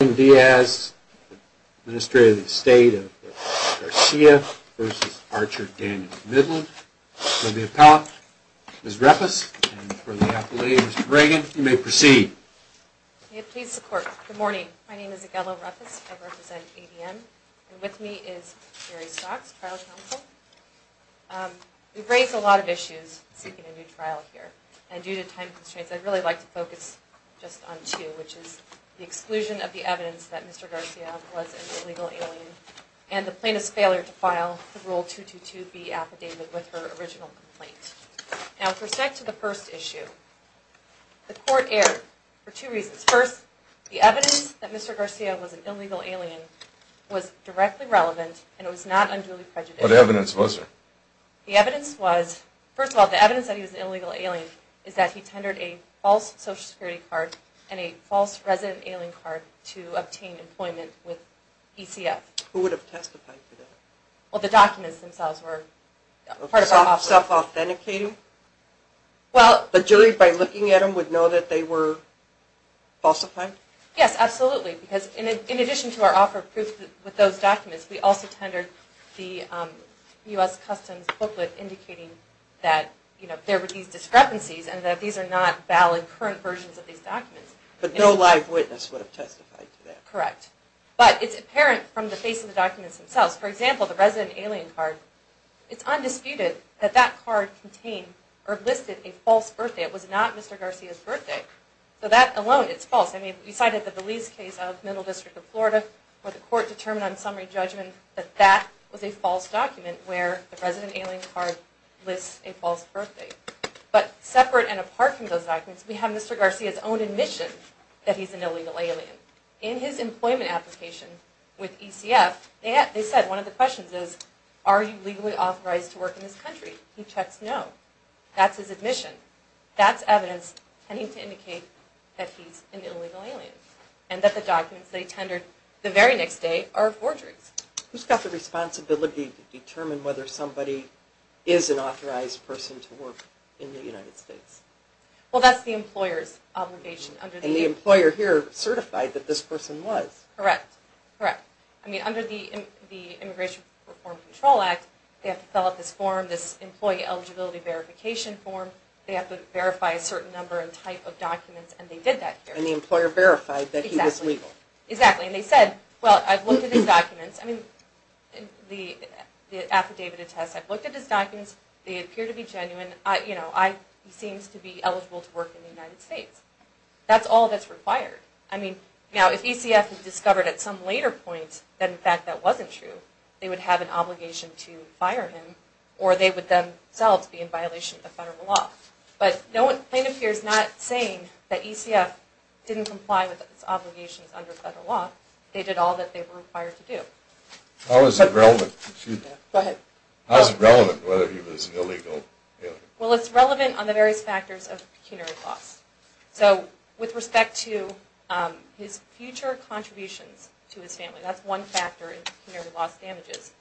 Arlene Diaz, Administrator of the Estate of Garcia v. Archer Daniels Midland. For the appellate, Ms. Ruppes, and for the appellate, Mr. Reagan, you may proceed. May it please the Court, good morning. My name is Aguello Ruppes. I represent ADM. And with me is Gary Stocks, Trial Counsel. We've raised a lot of issues seeking a new trial here. And due to time constraints, I'd really like to focus just on two, which is the exclusion of the evidence that Mr. Garcia was an illegal alien and the plaintiff's failure to file the Rule 222B affidavit with her original complaint. Now, with respect to the first issue, the Court erred for two reasons. First, the evidence that Mr. Garcia was an illegal alien was directly relevant, and it was not unduly prejudicial. What evidence was there? The evidence was, first of all, the evidence that he was an illegal alien is that he tendered a false Social Security card and a false resident alien card to obtain employment with ECF. Who would have testified for that? Well, the documents themselves were part of our offer. Self-authenticating? Well... The jury, by looking at them, would know that they were falsified? Yes, absolutely. Because in addition to our offer of proof with those documents, there were these discrepancies and that these are not valid current versions of these documents. But no live witness would have testified to that? Correct. But it's apparent from the face of the documents themselves. For example, the resident alien card. It's undisputed that that card contained or listed a false birthday. It was not Mr. Garcia's birthday. So that alone, it's false. I mean, we cited the Belize case of Middle District of Florida, where the Court determined on summary judgment that that was a false document where the resident alien card lists a false birthday. But separate and apart from those documents, we have Mr. Garcia's own admission that he's an illegal alien. In his employment application with ECF, they said one of the questions is, are you legally authorized to work in this country? He checks no. That's his admission. That's evidence tending to indicate that he's an illegal alien. And that the documents they tendered the very next day are forgeries. Who's got the responsibility to determine whether somebody is an authorized person to work in the United States? Well, that's the employer's obligation. And the employer here certified that this person was. Correct. Correct. I mean, under the Immigration Reform Control Act, they have to fill out this form, this employee eligibility verification form. They have to verify a certain number and type of documents, and they did that here. And the employer verified that he was legal. Exactly. And they said, well, I've looked at his documents. I mean, the affidavit attests, I've looked at his documents. They appear to be genuine. You know, he seems to be eligible to work in the United States. That's all that's required. I mean, now if ECF had discovered at some later point that in fact that wasn't true, they would have an obligation to fire him or they would themselves be in violation of federal law. But no one, plaintiff here is not saying that ECF didn't comply with its obligations under federal law. They did all that they were required to do. How is it relevant? Go ahead. How is it relevant whether he was an illegal alien? Well, it's relevant on the various factors of pecuniary loss. So with respect to his future contributions to his family, that's one factor in pecuniary loss damages.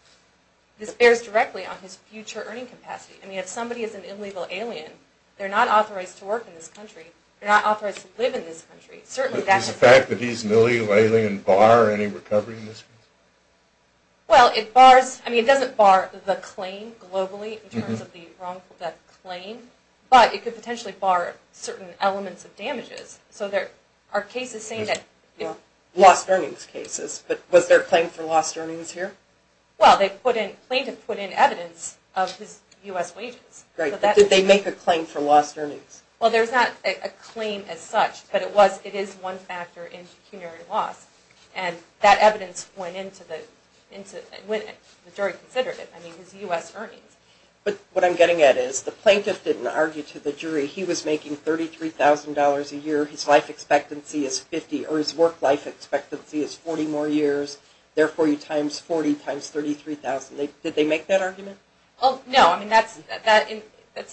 This bears directly on his future earning capacity. I mean, if somebody is an illegal alien, They're not authorized to live in this country. Is the fact that he's an illegal alien bar any recovery in this case? Well, it bars, I mean, it doesn't bar the claim globally in terms of the wrongful death claim, but it could potentially bar certain elements of damages. So there are cases saying that... Lost earnings cases, but was there a claim for lost earnings here? Well, they put in, plaintiff put in evidence of his U.S. wages. Great, but did they make a claim for lost earnings? Well, there's not a claim as such, but it is one factor in pecuniary loss. And that evidence went into the jury considerative, I mean, his U.S. earnings. But what I'm getting at is the plaintiff didn't argue to the jury he was making $33,000 a year, his life expectancy is 50, or his work life expectancy is 40 more years, therefore he times 40 times 33,000. Did they make that argument? Oh, no, I mean, that's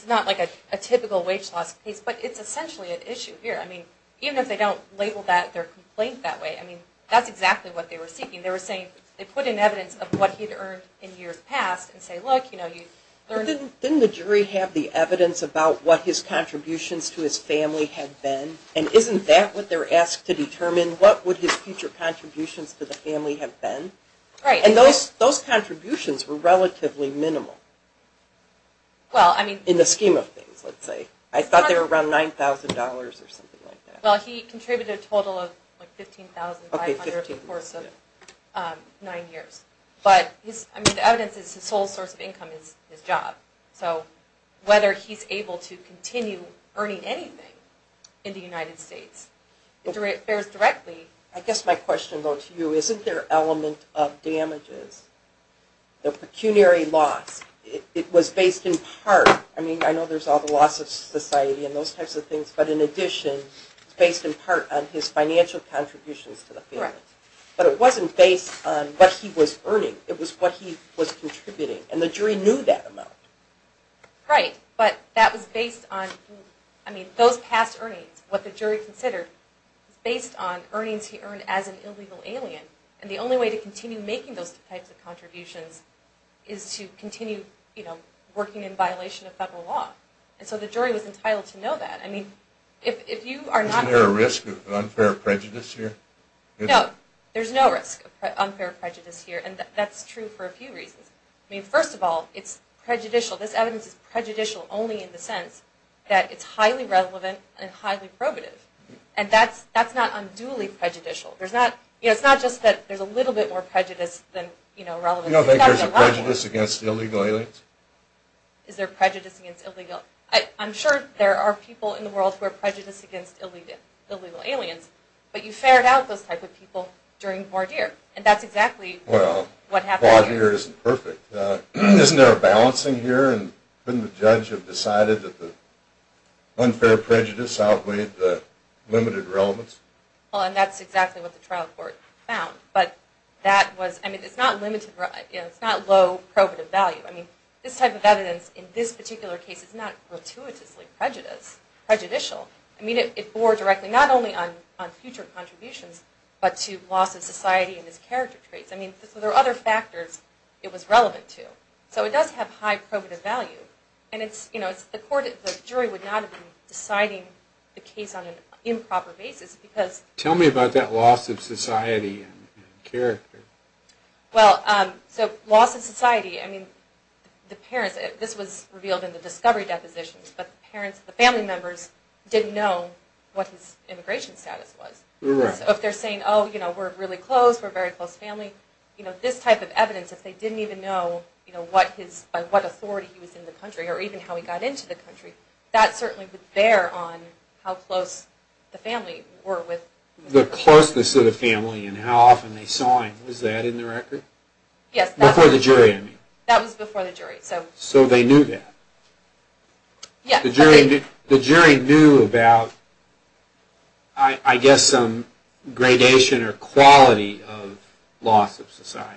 not like a typical wage loss case, but it's essentially an issue here. I mean, even if they don't label their complaint that way, I mean, that's exactly what they were seeking. They were saying, they put in evidence of what he'd earned in years past, and say, look, you know, you... But didn't the jury have the evidence about what his contributions to his family had been? And isn't that what they're asked to determine? What would his future contributions to the family have been? Right. And those contributions were relatively minimal. Well, I mean... In the scheme of things, let's say. I thought they were around $9,000 or something like that. Well, he contributed a total of, like, $15,500 over the course of nine years. But, I mean, the evidence is his sole source of income is his job. So, whether he's able to continue earning anything in the United States, it bears directly... I guess my question, though, to you, isn't there an element of damages? The pecuniary loss, it was based in part... I mean, I know there's all the loss of society and those types of things, but in addition, it's based in part on his financial contributions to the family. But it wasn't based on what he was earning. It was what he was contributing. And the jury knew that amount. Right. But that was based on... I mean, those past earnings, what the jury considered, based on earnings he earned as an illegal alien. And the only way to continue making those types of contributions is to continue, you know, working in violation of federal law. And so the jury was entitled to know that. I mean, if you are not... Isn't there a risk of unfair prejudice here? No, there's no risk of unfair prejudice here. And that's true for a few reasons. I mean, first of all, it's prejudicial. This evidence is prejudicial only in the sense that it's highly relevant and highly probative. And that's not unduly prejudicial. There's not... You know, it's not just that there's a little bit more prejudice than, you know, relevant... You don't think there's a prejudice against illegal aliens? Is there prejudice against illegal... I'm sure there are people in the world who are prejudiced against illegal aliens. But you fared out those type of people during Vardir. And that's exactly what happened here. Well, Vardir isn't perfect. Isn't there a balancing here? And couldn't the judge have decided that the unfair prejudice outweighed the limited relevance? Well, and that's exactly what the trial court found. But that was... I mean, it's not limited... You know, it's not low probative value. I mean, this type of evidence in this particular case is not gratuitously prejudicial. I mean, it bore directly not only on future contributions, but to loss of society and its character traits. I mean, there were other factors it was relevant to. So it does have high probative value. And it's... You know, the court... The jury would not have been deciding the case on an improper basis because... ...character. Well, so loss of society. I mean, the parents... This was revealed in the discovery depositions. But the parents, the family members didn't know what his immigration status was. Right. So if they're saying, oh, you know, we're really close. We're very close family. You know, this type of evidence, if they didn't even know, you know, what his... By what authority he was in the country or even how he got into the country, that certainly would bear on how close the family were with... The closeness of the family and how often they saw him. Was that in the record? Yes. Before the jury, I mean. That was before the jury, so... So they knew that. Yes. The jury knew about... I guess some gradation or quality of loss of society.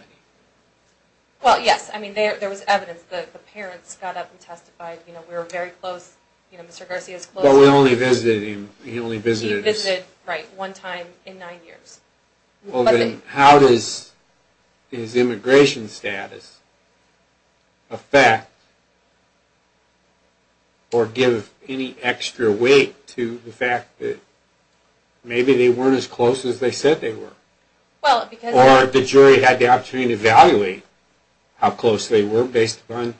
Well, yes. I mean, there was evidence that the parents got up and testified. You know, we were very close. You know, Mr. Garcia's close... But we only visited him. He only visited... Right, one time in nine years. Well, then how does his immigration status affect or give any extra weight to the fact that maybe they weren't as close as they said they were? Well, because... Or the jury had the opportunity to evaluate how close they were based upon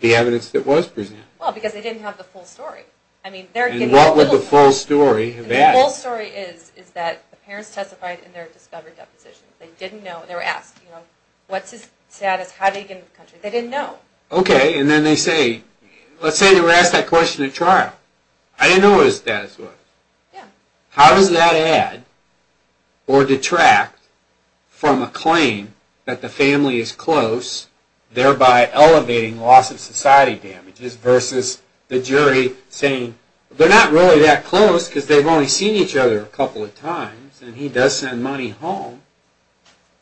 the evidence that was presented. Well, because they didn't have the full story. I mean, they're getting a little... And what would the full story have asked? The full story is that the parents testified in their discovery depositions. They didn't know. They were asked, you know, what's his status? How did he get into the country? They didn't know. Okay, and then they say... Let's say they were asked that question at trial. I didn't know what his status was. Yeah. How does that add or detract from a claim that the family is close, thereby elevating loss of society damages versus the jury saying, they're not really that close because they've only seen each other a couple of times and he does send money home.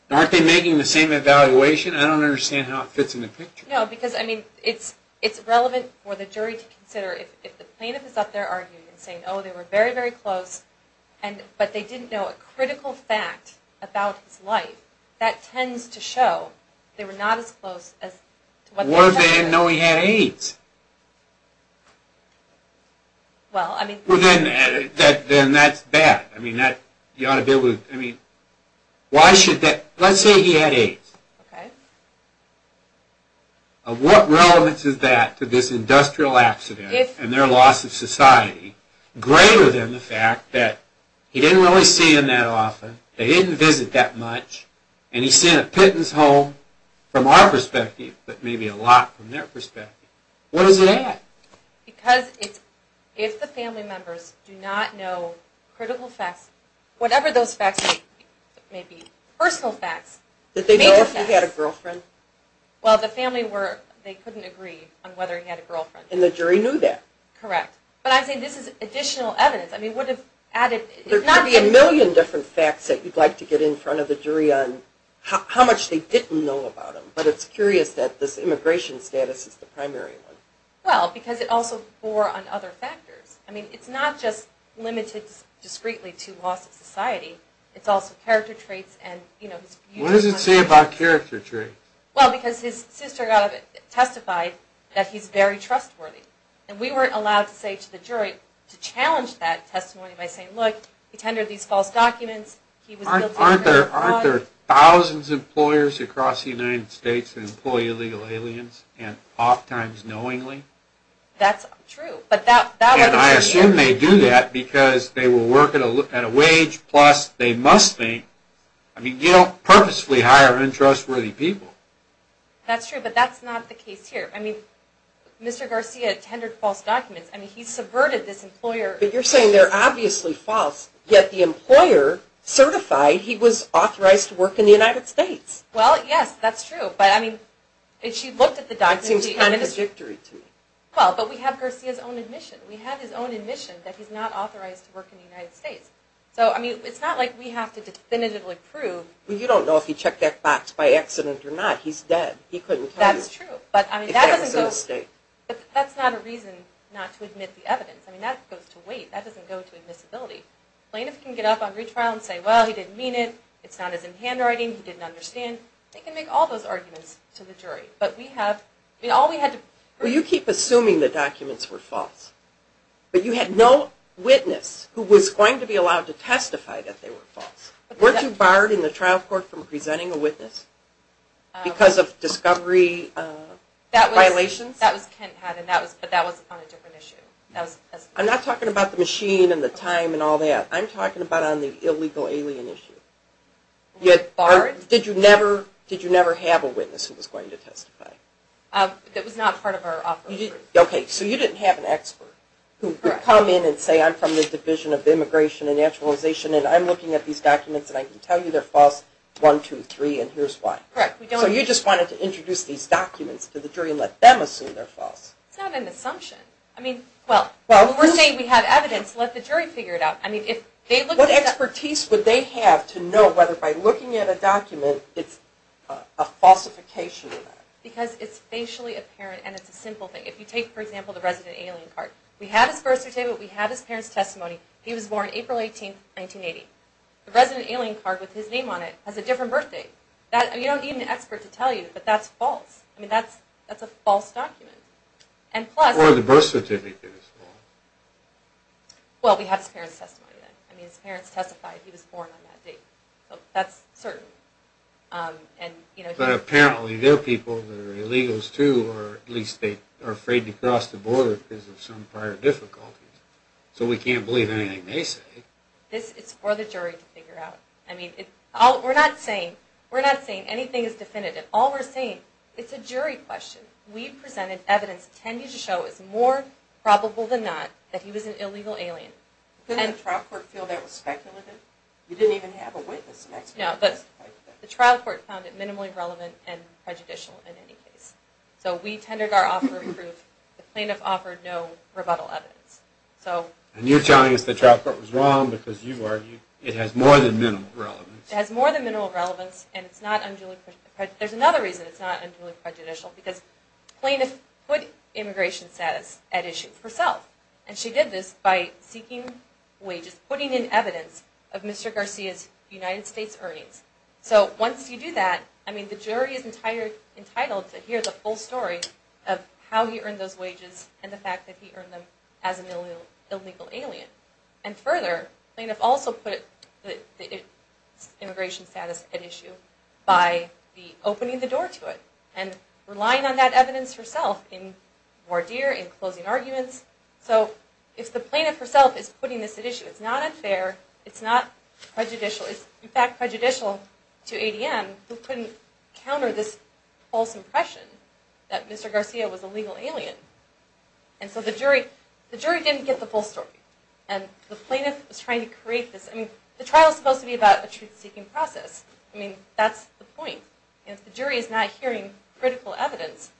Aren't they making the same evaluation? I don't understand how it fits in the picture. No, because, I mean, it's relevant for the jury to consider if the plaintiff is up there arguing and saying, oh, they were very, very close, but they didn't know a critical fact about his life, that tends to show they were not as close as... What if they didn't know he had AIDS? Well, I mean... Well, then that's bad. I mean, you ought to be able to... I mean, why should that... Let's say he had AIDS. Okay. What relevance is that to this industrial accident and their loss of society greater than the fact that he didn't really see them that often, they didn't visit that much, and he sent a pittance home from our perspective, but maybe a lot from their perspective. What does it add? Because if the family members do not know critical facts, whatever those facts may be, personal facts, major facts... Did they know if he had a girlfriend? Well, the family, they couldn't agree on whether he had a girlfriend. And the jury knew that. Correct. But I think this is additional evidence. I mean, what if added... There could be a million different facts that you'd like to get in front of the jury on how much they didn't know about him, but it's curious that this immigration status is the primary one. Well, because it also bore on other factors. I mean, it's not just limited discreetly to loss of society. It's also character traits and, you know, his beautiful... What does it say about character traits? Well, because his sister testified that he's very trustworthy. And we weren't allowed to say to the jury, to challenge that testimony by saying, look, he tendered these false documents, he was... Aren't there thousands of employers across the United States that employ illegal aliens and oft times knowingly? That's true, but that... And I assume they do that because they will work at a wage, plus they must think... I mean, you don't purposefully hire untrustworthy people. That's true, but that's not the case here. I mean, Mr. Garcia tendered false documents. I mean, he subverted this employer... But you're saying they're obviously false, yet the employer certified he was authorized to work in the United States. Well, yes, that's true. But, I mean, if she looked at the documents... It seems contradictory to me. Well, but we have Garcia's own admission. We have his own admission that he's not authorized to work in the United States. So, I mean, it's not like we have to definitively prove... Well, you don't know if he checked that box by accident or not. He's dead. He couldn't tell you... That's true, but I mean, that doesn't go... If that was a mistake. But that's not a reason not to admit the evidence. I mean, that goes to wait. That doesn't go to admissibility. Plaintiffs can get up on retrial and say, well, he didn't mean it, it's not as in handwriting, he didn't understand. And they can make all those arguments to the jury. But we have... Well, you keep assuming the documents were false. But you had no witness who was going to be allowed to testify that they were false. Weren't you barred in the trial court from presenting a witness? Because of discovery violations? That was Kent Haddon, but that was on a different issue. I'm not talking about the machine and the time and all that. I'm talking about on the illegal alien issue. Did you never have a witness who was going to testify? That was not part of our offer. Okay, so you didn't have an expert who could come in and say, I'm from the Division of Immigration and Naturalization, and I'm looking at these documents, and I can tell you they're false, one, two, three, and here's why. Correct. So you just wanted to introduce these documents to the jury and let them assume they're false. It's not an assumption. I mean, well, we're saying we have evidence. Let the jury figure it out. What expertise would they have to know whether by looking at a document it's a falsification of that? Because it's facially apparent, and it's a simple thing. If you take, for example, the resident alien card, we have his birth certificate, we have his parents' testimony. He was born April 18, 1980. The resident alien card with his name on it has a different birth date. You don't need an expert to tell you, but that's false. That's a false document. Or the birth certificate is false. Well, we have his parents' testimony, then. I mean, his parents testified he was born on that date. That's certain. But apparently there are people that are illegals, too, or at least they are afraid to cross the border because of some prior difficulties. So we can't believe anything they say. It's for the jury to figure out. I mean, we're not saying anything is definitive. All we're saying, it's a jury question. We presented evidence that tended to show it's more probable than not that he was an illegal alien. Couldn't the trial court feel that was speculative? You didn't even have a witness. No, but the trial court found it minimally relevant and prejudicial in any case. So we tendered our offer of proof. The plaintiff offered no rebuttal evidence. And you're telling us the trial court was wrong because you argued it has more than minimal relevance. It has more than minimal relevance, and it's not unduly prejudicial. There's another reason it's not unduly prejudicial, because the plaintiff put immigration status at issue herself. And she did this by seeking wages, putting in evidence of Mr. Garcia's United States earnings. So once you do that, I mean, the jury is entitled to hear the full story of how he earned those wages and the fact that he earned them as an illegal alien. And further, the plaintiff also put immigration status at issue by opening the door to it and relying on that evidence herself in voir dire, in closing arguments. So if the plaintiff herself is putting this at issue, it's not unfair, it's not prejudicial. It's, in fact, prejudicial to ADM, who couldn't counter this false impression that Mr. Garcia was a legal alien. And so the jury didn't get the full story. And the plaintiff was trying to create this. I mean, the trial is supposed to be about a truth-seeking process. I mean, that's the point. If the jury is not hearing critical evidence,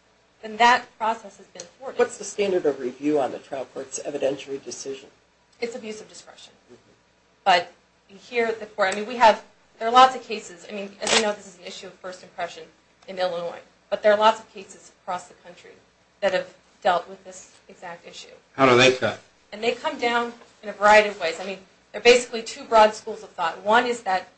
then that process has been thwarted. What's the standard of review on the trial court's evidentiary decision? It's abuse of discretion. But here at the court, I mean, we have, there are lots of cases. I mean, as you know, this is an issue of first impression in Illinois. But there are lots of cases across the country that have dealt with this exact issue. How do they cut? And they come down in a variety of ways. I mean, there are basically two broad schools of thought. One is that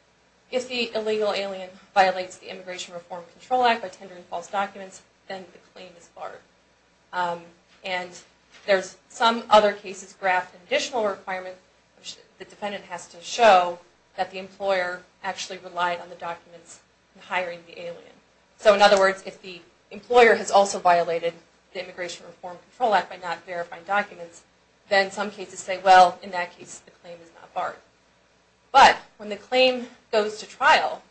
if the illegal alien violates the Immigration Reform Control Act by tendering false documents, then the claim is barred. And there's some other cases graphed an additional requirement, which the defendant has to show that the employer actually relied on the documents in hiring the alien. So in other words, if the employer has also violated the Immigration Reform Control Act by not verifying documents, then some cases say, well, in that case, the claim is not barred. But when the claim goes to trial,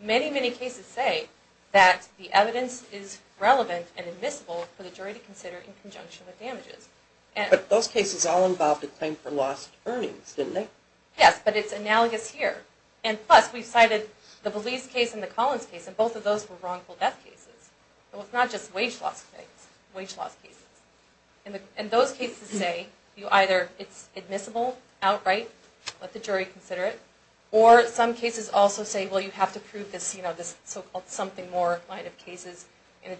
many, many cases say that the evidence is relevant and admissible for the jury to consider in conjunction with damages. But those cases all involved a claim for lost earnings, didn't they? Yes, but it's analogous here. And plus, we cited the Belize case and the Collins case, and both of those were wrongful death cases. So it's not just wage loss cases. Wage loss cases. And those cases say, either it's admissible outright, let the jury consider it, or some cases also say, well, you have to prove this so-called something more line of cases. And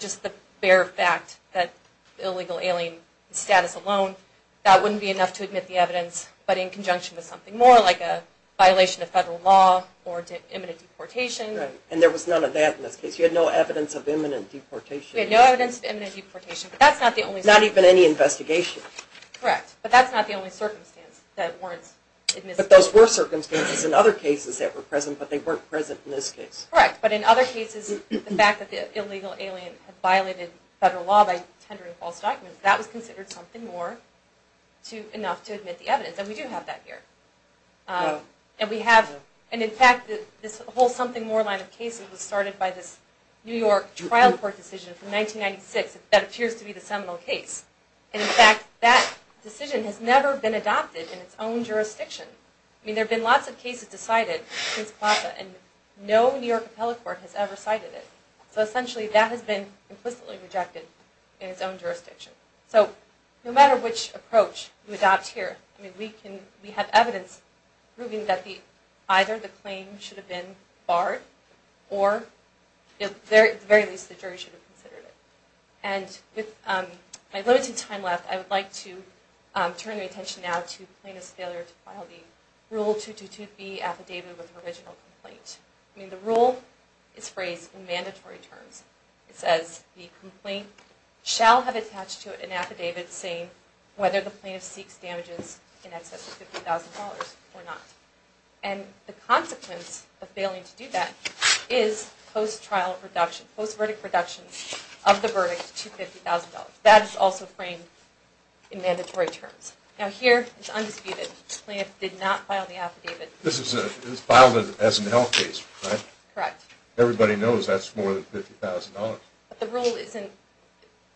just the bare fact that the illegal alien status alone, that wouldn't be enough to admit the evidence, but in conjunction with something more like a violation of federal law or imminent deportation. Right, and there was none of that in this case. You had no evidence of imminent deportation. We had no evidence of imminent deportation, but that's not the only circumstance. Not even any investigation. Correct, but that's not the only circumstance that warrants admissibility. But those were circumstances in other cases that were present, but they weren't present in this case. Correct, but in other cases, the fact that the illegal alien had violated federal law by tendering false documents, that was considered something more enough to admit the evidence, and we do have that here. And in fact, this whole something more line of cases was started by this New York trial court decision from 1996 that appears to be the seminal case. And in fact, that decision has never been adopted in its own jurisdiction. I mean, there have been lots of cases decided since PLASA, and no New York appellate court has ever cited it. So essentially, that has been implicitly rejected in its own jurisdiction. So no matter which approach we adopt here, we have evidence proving that either the claim should have been barred, or at the very least, the jury should have considered it. And with my limited time left, I would like to turn the attention now to plaintiff's failure to file the Rule 222B Affidavit of Original Complaint. I mean, the rule is phrased in mandatory terms. It says, the complaint shall have attached to it an affidavit saying whether the plaintiff seeks damages in excess of $50,000 or not. And the consequence of failing to do that is post-trial reduction, post-verdict reduction of the verdict to $50,000. That is also framed in mandatory terms. Now here, it's undisputed. The plaintiff did not file the affidavit. This is filed as a health case, right? Correct. Everybody knows that's more than $50,000. But the rule isn't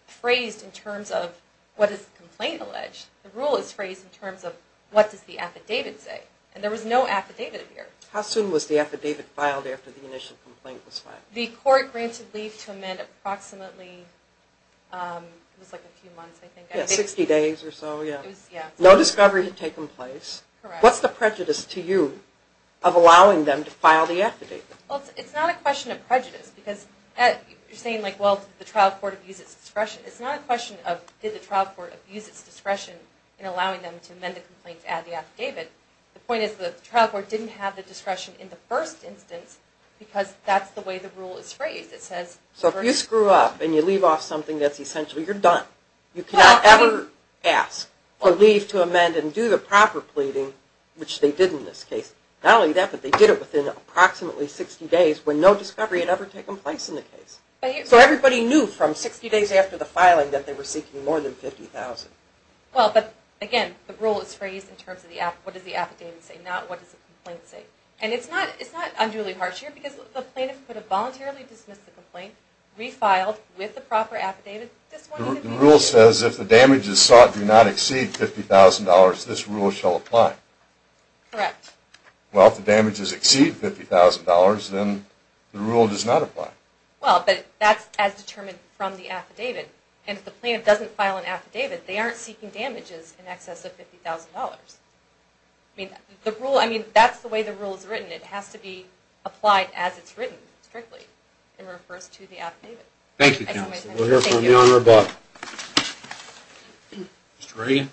phrased in terms of what is the complaint alleged. The rule is phrased in terms of what does the affidavit say. And there was no affidavit here. How soon was the affidavit filed after the initial complaint was filed? The court granted leave to amend approximately, it was like a few months, I think. Yeah, 60 days or so, yeah. No discovery had taken place. Correct. What's the prejudice to you of allowing them to file the affidavit? Well, it's not a question of prejudice because you're saying like, well, did the trial court abuse its discretion? It's not a question of did the trial court abuse its discretion in allowing them to amend the complaint to add the affidavit. The point is the trial court didn't have the discretion in the first instance because that's the way the rule is phrased. So if you screw up and you leave off something that's essential, you're done. You cannot ever ask for leave to amend and do the proper pleading, which they did in this case. Not only that, but they did it within approximately 60 days when no discovery had ever taken place in the case. So everybody knew from 60 days after the filing that they were seeking more than $50,000. Well, but again, the rule is phrased in terms of what does the affidavit say, not what does the complaint say. And it's not unduly harsh here because the plaintiff could have voluntarily dismissed the complaint, refiled with the proper affidavit. The rule says if the damages sought do not exceed $50,000, this rule shall apply. Correct. Well, if the damages exceed $50,000, then the rule does not apply. Well, but that's as determined from the affidavit. And if the plaintiff doesn't file an affidavit, they aren't seeking damages in excess of $50,000. I mean, that's the way the rule is written. It has to be applied as it's written, strictly, and refers to the affidavit. Thank you, Counsel. We'll hear from the Honorable. Mr. Reagan?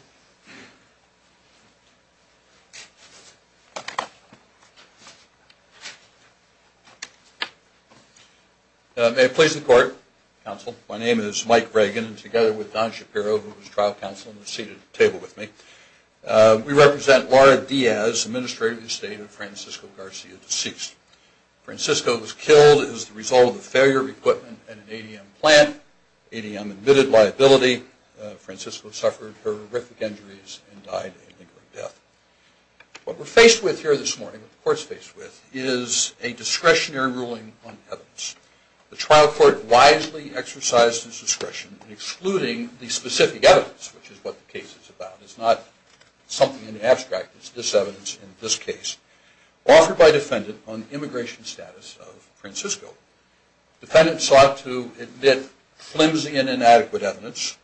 May it please the Court, Counsel, my name is Mike Reagan, and together with Don Shapiro, who is trial counsel and is seated at the table with me, we represent Laura Diaz, Administrator of the Estate of Francisco Garcia, deceased. Francisco was killed as a result of the failure of equipment at an ADM plant. ADM admitted liability. Francisco suffered horrific injuries and died a lingering death. What we're faced with here this morning, what the Court's faced with, is a discretionary ruling on evidence. The trial court wisely exercised its discretion in excluding the specific evidence, which is what the case is about. It's not something in the abstract. It's this evidence in this case. Offered by defendant on the immigration status of Francisco, defendant sought to admit flimsy and inadequate evidence,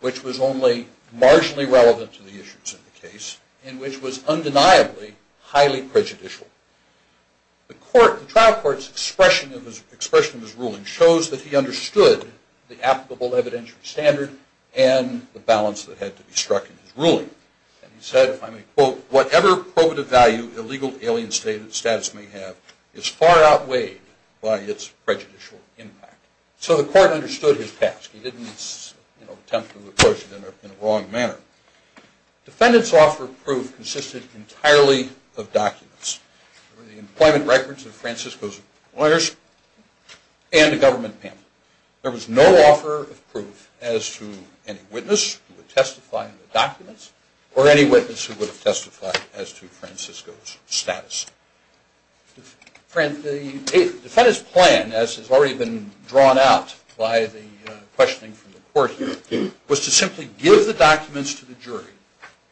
which was only marginally relevant to the issues of the case, and which was undeniably highly prejudicial. The trial court's expression of his ruling shows that he understood the applicable evidentiary standard and the balance that had to be struck in his ruling. And he said, if I may quote, whatever probative value illegal alien status may have is far outweighed by its prejudicial impact. So the court understood his task. He didn't attempt to approach it in a wrong manner. Defendant's offer of proof consisted entirely of documents. There were the employment records of Francisco's lawyers and a government pamphlet. There was no offer of proof as to any witness who would testify in the documents or any witness who would have testified as to Francisco's status. The defendant's plan, as has already been drawn out by the questioning from the court here, was to simply give the documents to the jury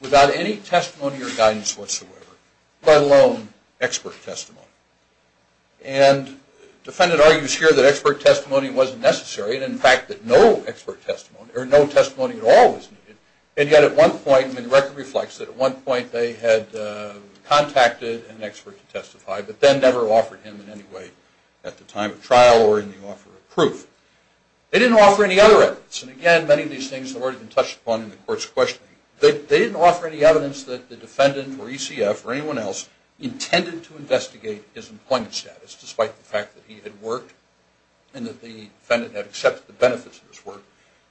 without any testimony or guidance whatsoever, let alone expert testimony. And defendant argues here that expert testimony wasn't necessary, and in fact that no expert testimony or no testimony at all was needed. And yet at one point the record reflects that at one point they had contacted an expert to testify, but then never offered him in any way at the time of trial or in the offer of proof. They didn't offer any other evidence. And again, many of these things have already been touched upon in the court's questioning. They didn't offer any evidence that the defendant or ECF or anyone else intended to investigate his employment status despite the fact that he had worked and that the defendant had accepted the benefits of his work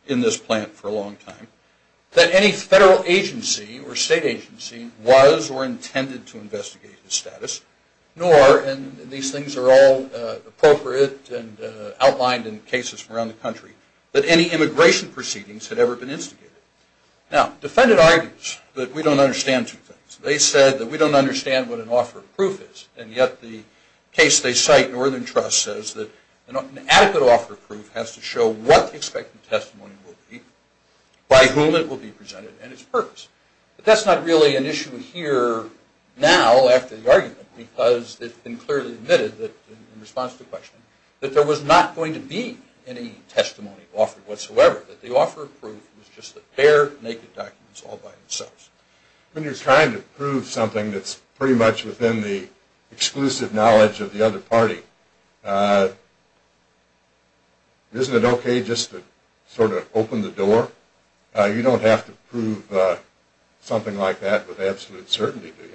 in this plant for a long time, that any federal agency or state agency was or intended to investigate his status, nor, and these things are all appropriate and outlined in cases from around the country, that any immigration proceedings had ever been instigated. Now, defendant argues that we don't understand two things. They said that we don't understand what an offer of proof is, and yet the case they cite, Northern Trust, says that an adequate offer of proof has to show what the expected testimony will be, by whom it will be presented, and its purpose. But that's not really an issue here now after the argument, because it's been clearly admitted in response to questioning that there was not going to be any testimony offered whatsoever, that the offer of proof was just a pair of naked documents all by themselves. When you're trying to prove something that's pretty much within the exclusive knowledge of the other party, isn't it okay just to sort of open the door? You don't have to prove something like that with absolute certainty, do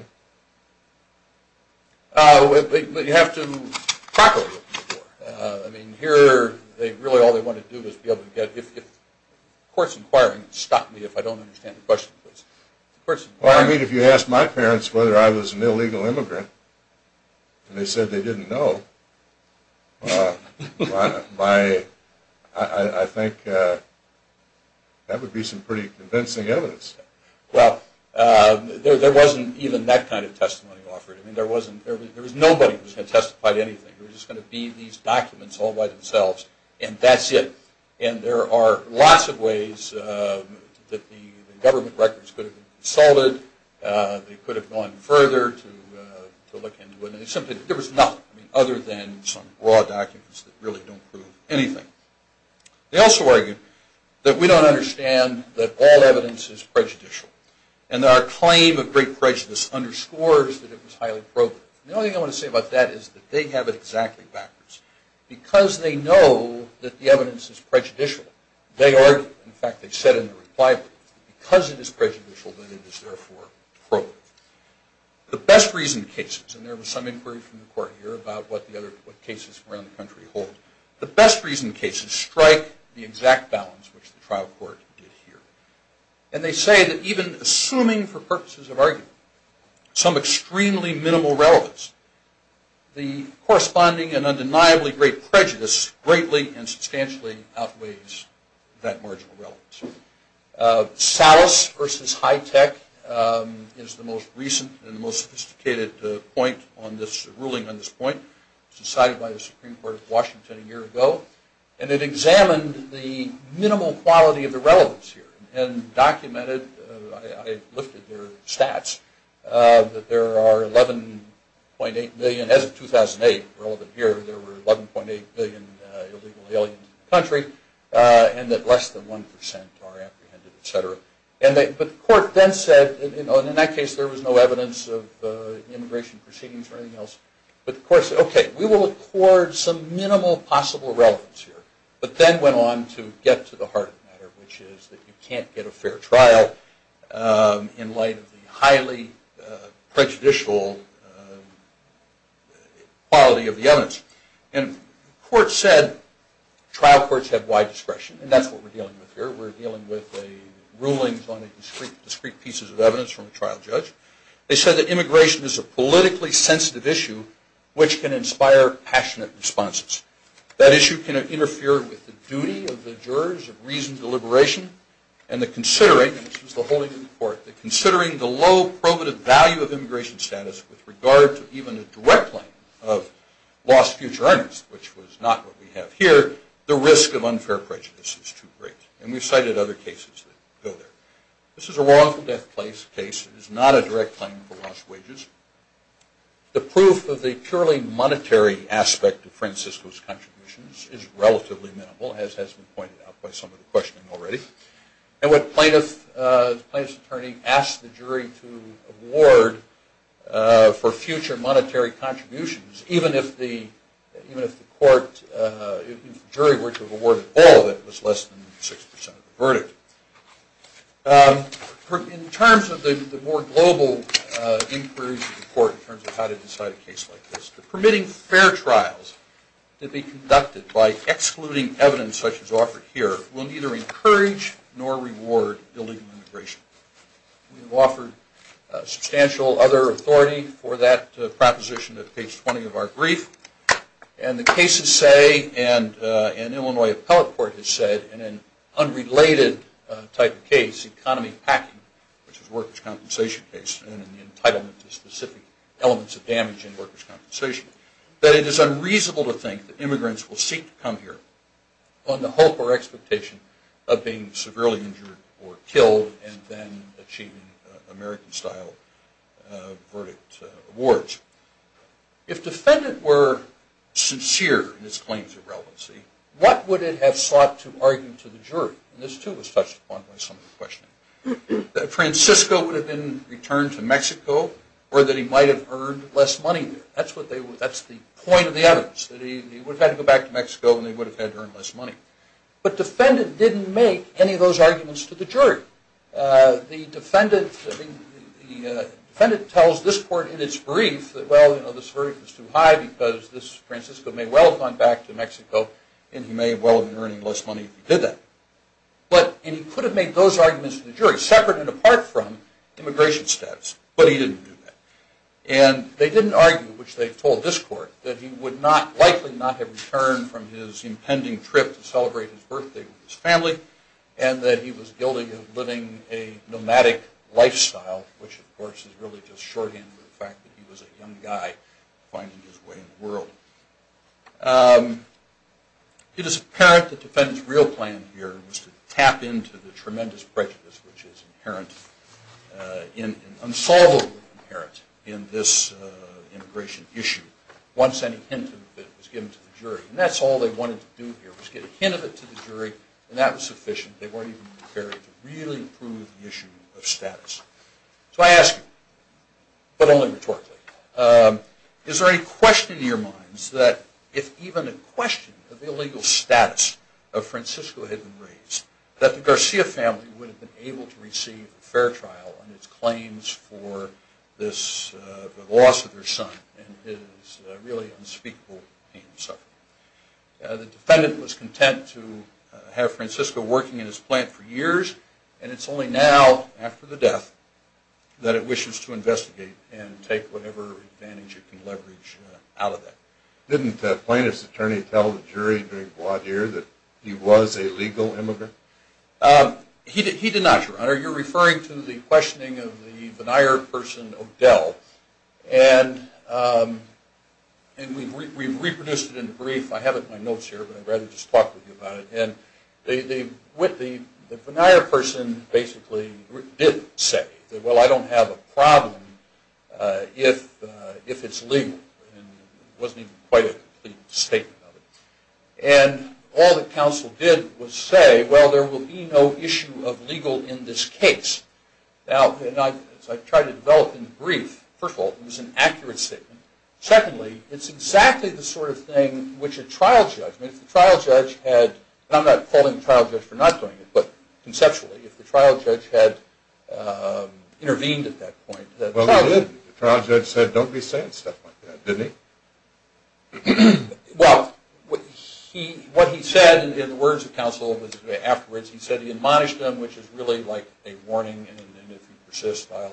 you? You have to properly open the door. I mean, here, really all they want to do is be able to get, if court's inquiring, stop me if I don't understand the question, please. Well, I mean, if you asked my parents whether I was an illegal immigrant, and they said they didn't know, I think that would be some pretty convincing evidence. Well, there wasn't even that kind of testimony offered. I mean, there was nobody who was going to testify to anything. It was just going to be these documents all by themselves, and that's it. And there are lots of ways that the government records could have been consulted. They could have gone further to look into it. There was nothing other than some raw documents that really don't prove anything. They also argued that we don't understand that all evidence is prejudicial, and that our claim of great prejudice underscores that it was highly broken. The only thing I want to say about that is that they have it exactly backwards. Because they know that the evidence is prejudicial, they argue, in fact they said in their reply, because it is prejudicial, then it is therefore broken. The best reason cases, and there was some inquiry from the court here about what cases around the country hold, the best reason cases strike the exact balance which the trial court did here. And they say that even assuming for purposes of argument, some extremely minimal relevance, the corresponding and undeniably great prejudice greatly and substantially outweighs that marginal relevance. Salus versus Hitech is the most recent and the most sophisticated ruling on this point. It was decided by the Supreme Court of Washington a year ago, and it examined the minimal quality of the relevance here, and documented, I looked at their stats, that there are 11.8 million, as of 2008, relevant here, there were 11.8 billion illegal aliens in the country, and that less than 1% are apprehended, etc. But the court then said, and in that case there was no evidence of immigration proceedings or anything else, but the court said, okay, we will accord some minimal possible relevance here. But then went on to get to the heart of the matter, which is that you can't get a fair trial in light of the highly prejudicial quality of the evidence. And the court said, trial courts have wide discretion, and that's what we're dealing with here. We're dealing with rulings on discrete pieces of evidence from a trial judge. They said that immigration is a politically sensitive issue which can inspire passionate responses. That issue can interfere with the duty of the jurors of reasoned deliberation, and the considering, and this was the holding of the court, that considering the low probative value of immigration status with regard to even a direct claim of lost future earnings, which was not what we have here, the risk of unfair prejudice is too great. And we've cited other cases that go there. This is a wrongful death case. It is not a direct claim for lost wages. The proof of the purely monetary aspect of Francisco's contributions is relatively minimal, as has been pointed out by some of the questioning already. And what the plaintiff's attorney asked the jury to award for future monetary contributions, even if the jury were to award all of it, was less than 6% of the verdict. In terms of the more global inquiries of the court in terms of how to decide a case like this, the permitting fair trials to be conducted by excluding evidence such as offered here will neither encourage nor reward illegal immigration. We've offered substantial other authority for that proposition at page 20 of our brief, and the cases say, and Illinois Appellate Court has said, in an unrelated type of case, economy packing, which is a workers' compensation case, and the entitlement to specific elements of damage in workers' compensation, that it is unreasonable to think that immigrants will seek to come here on the hope or expectation of being severely injured or killed and then achieving American-style verdict awards. If defendant were sincere in its claims of relevancy, what would it have sought to argue to the jury? And this, too, was touched upon by some of the questioning. That Francisco would have been returned to Mexico or that he might have earned less money there. That's the point of the evidence, that he would have had to go back to Mexico and they would have had to earn less money. But defendant didn't make any of those arguments to the jury. The defendant tells this court in its brief that, well, you know, this verdict is too high because Francisco may well have gone back to Mexico and he may well have been earning less money if he did that. And he could have made those arguments to the jury, separate and apart from immigration status, but he didn't do that. And they didn't argue, which they told this court, that he would likely not have returned from his impending trip to celebrate his birthday with his family and that he was guilty of living a nomadic lifestyle, which, of course, is really just shorthand for the fact that he was a young guy finding his way in the world. It is apparent that the defendant's real plan here was to tap into the tremendous prejudice which is inherently and unsolvably inherent in this immigration issue, once any hint of it was given to the jury. And that's all they wanted to do here was get a hint of it to the jury and that was sufficient. They weren't even prepared to really prove the issue of status. So I ask you, but only rhetorically, is there any question in your minds that if even a question of the illegal status of Francisco had been raised, that the Garcia family would have been able to receive a fair trial on its claims for the loss of their son and his really unspeakable pain and suffering? The defendant was content to have Francisco working in his plant for years and it's only now, after the death, that it wishes to investigate and take whatever advantage it can leverage out of that. Didn't the plaintiff's attorney tell the jury during voir dire that he was a legal immigrant? He did not, Your Honor. You're referring to the questioning of the Vennire person, Odell. And we've reproduced it in the brief. I have it in my notes here, but I'd rather just talk with you about it. And the Vennire person basically did say, well, I don't have a problem if it's legal. It wasn't even quite a complete statement of it. And all the counsel did was say, well, there will be no issue of legal in this case. Now, as I've tried to develop in the brief, first of all, it was an accurate statement. Secondly, it's exactly the sort of thing which a trial judge, and I'm not calling the trial judge for not doing it, but conceptually if the trial judge had intervened at that point. Well, he did. The trial judge said, don't be saying stuff like that, didn't he? Well, what he said in the words of counsel afterwards, he said he admonished him, which is really like a warning. And if he persists, I'll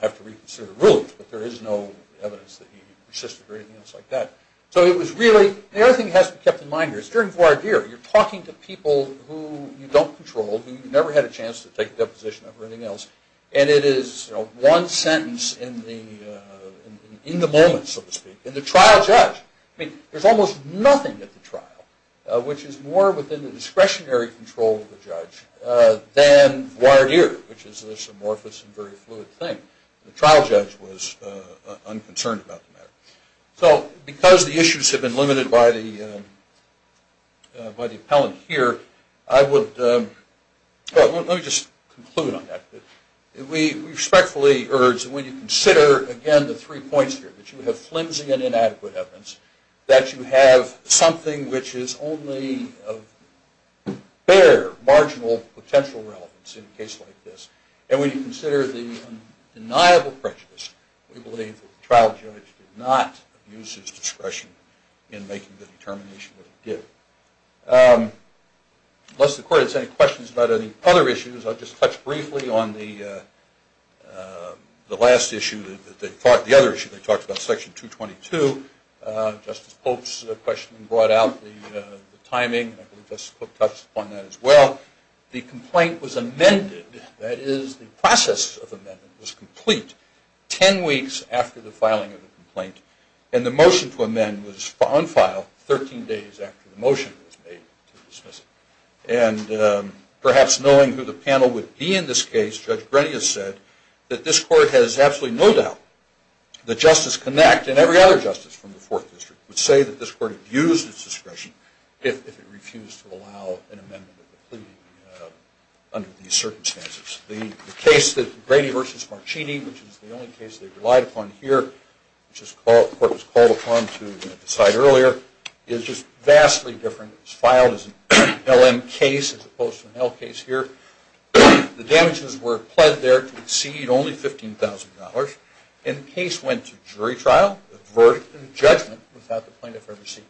have to reconsider the rulings. But there is no evidence that he persisted or anything else like that. So it was really the other thing that has to be kept in mind here. It's during voir dire. You're talking to people who you don't control, who you never had a chance to take a deposition over anything else. And it is one sentence in the moment, so to speak. And the trial judge, I mean, there's almost nothing at the trial, which is more within the discretionary control of the judge than voir dire, which is this amorphous and very fluid thing. The trial judge was unconcerned about the matter. So because the issues have been limited by the appellant here, let me just conclude on that. We respectfully urge that when you consider, again, the three points here, that you have flimsy and inadequate evidence, that you have something which is only of bare, marginal, potential relevance in a case like this. And when you consider the undeniable prejudice, we believe that the trial judge did not abuse his discretion in making the determination that he did. Unless the court has any questions about any other issues, I'll just touch briefly on the last issue, the other issue they talked about, Section 222. Justice Pope's question brought out the timing, and I believe Justice Cook touched upon that as well. The complaint was amended, that is, the process of amendment was complete, 10 weeks after the filing of the complaint, and the motion to amend was on file 13 days after the motion was made to dismiss it. And perhaps knowing who the panel would be in this case, Judge Grady has said that this court has absolutely no doubt that Justice Connacht and every other justice from the Fourth District would say that this court abused its discretion if it refused to allow an amendment of the plea under these circumstances. The case that Grady v. Marchini, which is the only case they relied upon here, which the court was called upon to decide earlier, is just vastly different. It was filed as an LM case as opposed to an L case here. The damages were pled there to exceed only $15,000, and the case went to jury trial, a verdict, and judgment without the plaintiff ever seeking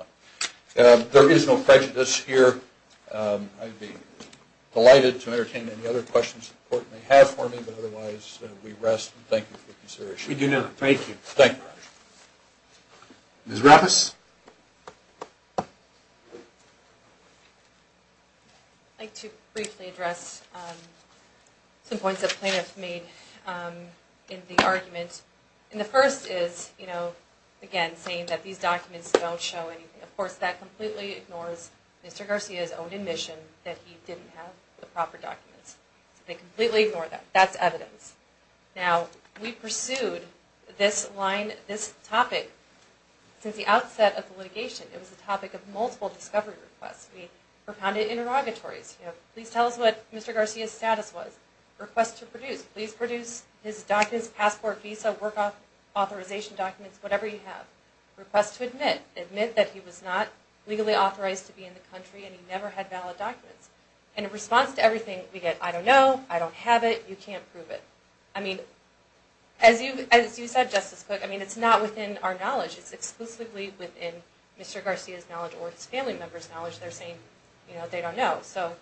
to be held accountable. There is no prejudice here. I'd be delighted to entertain any other questions the court may have for me, but otherwise we rest, and thank you for your consideration. We do not. Thank you. Thank you. Ms. Rappas? I'd like to briefly address some points that the plaintiff made in the argument. The first is, again, saying that these documents don't show anything. Of course, that completely ignores Mr. Garcia's own admission that he didn't have the proper documents. They completely ignore that. That's evidence. Now, we pursued this line, this topic, since the outset of the litigation. It was a topic of multiple discovery requests. We propounded interrogatories. Please tell us what Mr. Garcia's status was. Request to produce. Please produce his documents, passport, visa, work authorization documents, whatever you have. Request to admit. Admit that he was not legally authorized to be in the country, and he never had valid documents. In response to everything, we get, I don't know, I don't have it, you can't prove it. I mean, as you said, Justice Cook, I mean, it's not within our knowledge. It's exclusively within Mr. Garcia's knowledge or his family member's knowledge. They're saying, you know, they don't know. So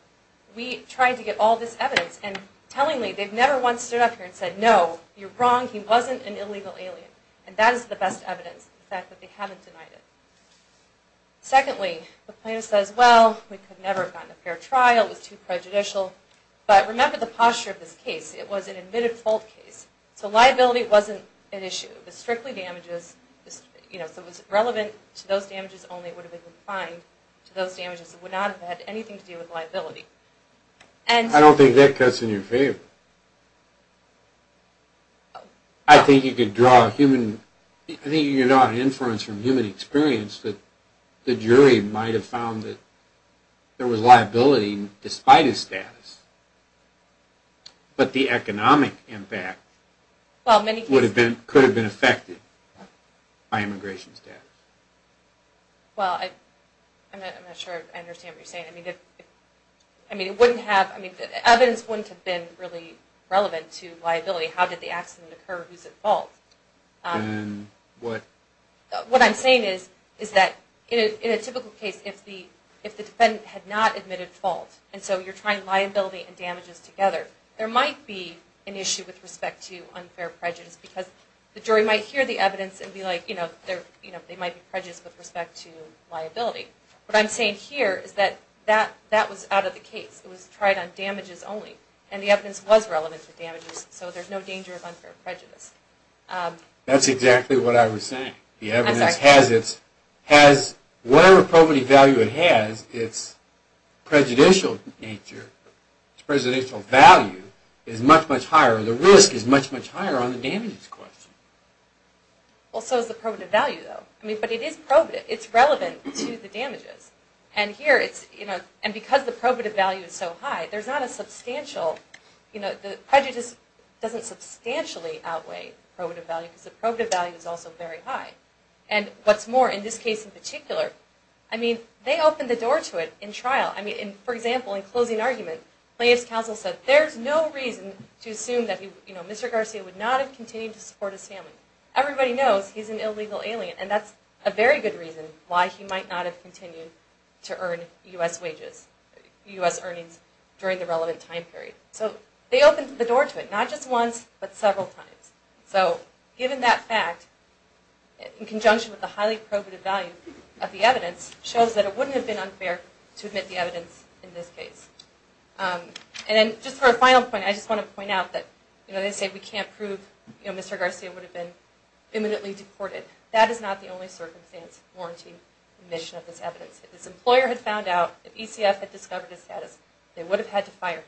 we tried to get all this evidence, and tellingly, they've never once stood up here and said, no, you're wrong, he wasn't an illegal alien. And that is the best evidence, the fact that they haven't denied it. Secondly, the plaintiff says, well, we could never have gotten a fair trial. It was too prejudicial. But remember the posture of this case. It was an admitted fault case. So liability wasn't an issue. It was strictly damages, you know, so it was relevant to those damages only. It would have been confined to those damages. It would not have had anything to do with liability. I don't think that cuts in your favor. I think you could draw a human, I think you could draw an inference from human experience that the jury might have found that there was liability despite his status. But the economic impact could have been affected by immigration status. Well, I'm not sure I understand what you're saying. I mean, evidence wouldn't have been really relevant to liability. How did the accident occur? Who's at fault? What I'm saying is that in a typical case, if the defendant had not admitted fault, and so you're trying liability and damages together, there might be an issue with respect to unfair prejudice because the jury might hear the evidence and be like, you know, they might be prejudiced with respect to liability. What I'm saying here is that that was out of the case. It was tried on damages only, and the evidence was relevant to damages, so there's no danger of unfair prejudice. That's exactly what I was saying. The evidence has its, whatever probative value it has, its prejudicial nature, its prejudicial value is much, much higher. The risk is much, much higher on the damages question. Well, so is the probative value, though. But it is probative. It's relevant to the damages. And here it's, you know, and because the probative value is so high, there's not a substantial, you know, the prejudice doesn't substantially outweigh probative value because the probative value is also very high. And what's more, in this case in particular, I mean, they opened the door to it in trial. I mean, for example, in closing argument, the plaintiff's counsel said there's no reason to assume that, you know, Mr. Garcia would not have continued to support his family. Everybody knows he's an illegal alien, and that's a very good reason why he might not have continued to earn U.S. wages, U.S. earnings during the relevant time period. So they opened the door to it, not just once, but several times. So given that fact, in conjunction with the highly probative value of the evidence, shows that it wouldn't have been unfair to admit the evidence in this case. And then just for a final point, I just want to point out that, you know, they say we can't prove, you know, Mr. Garcia would have been imminently deported. That is not the only circumstance warranting admission of this evidence. If his employer had found out, if ECF had discovered his status, they would have had to fire him.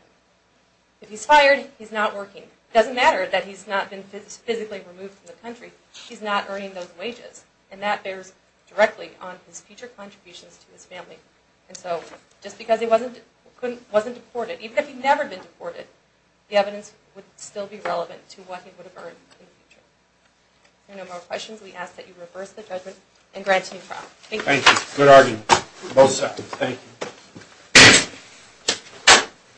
If he's fired, he's not working. It doesn't matter that he's not been physically removed from the country. He's not earning those wages, and that bears directly on his future contributions to his family. And so just because he wasn't deported, even if he'd never been deported, the evidence would still be relevant to what he would have earned in the future. If there are no more questions, we ask that you reverse the judgment and grant him trial. Thank you. Thank you. Good argument, both sides. Thank you.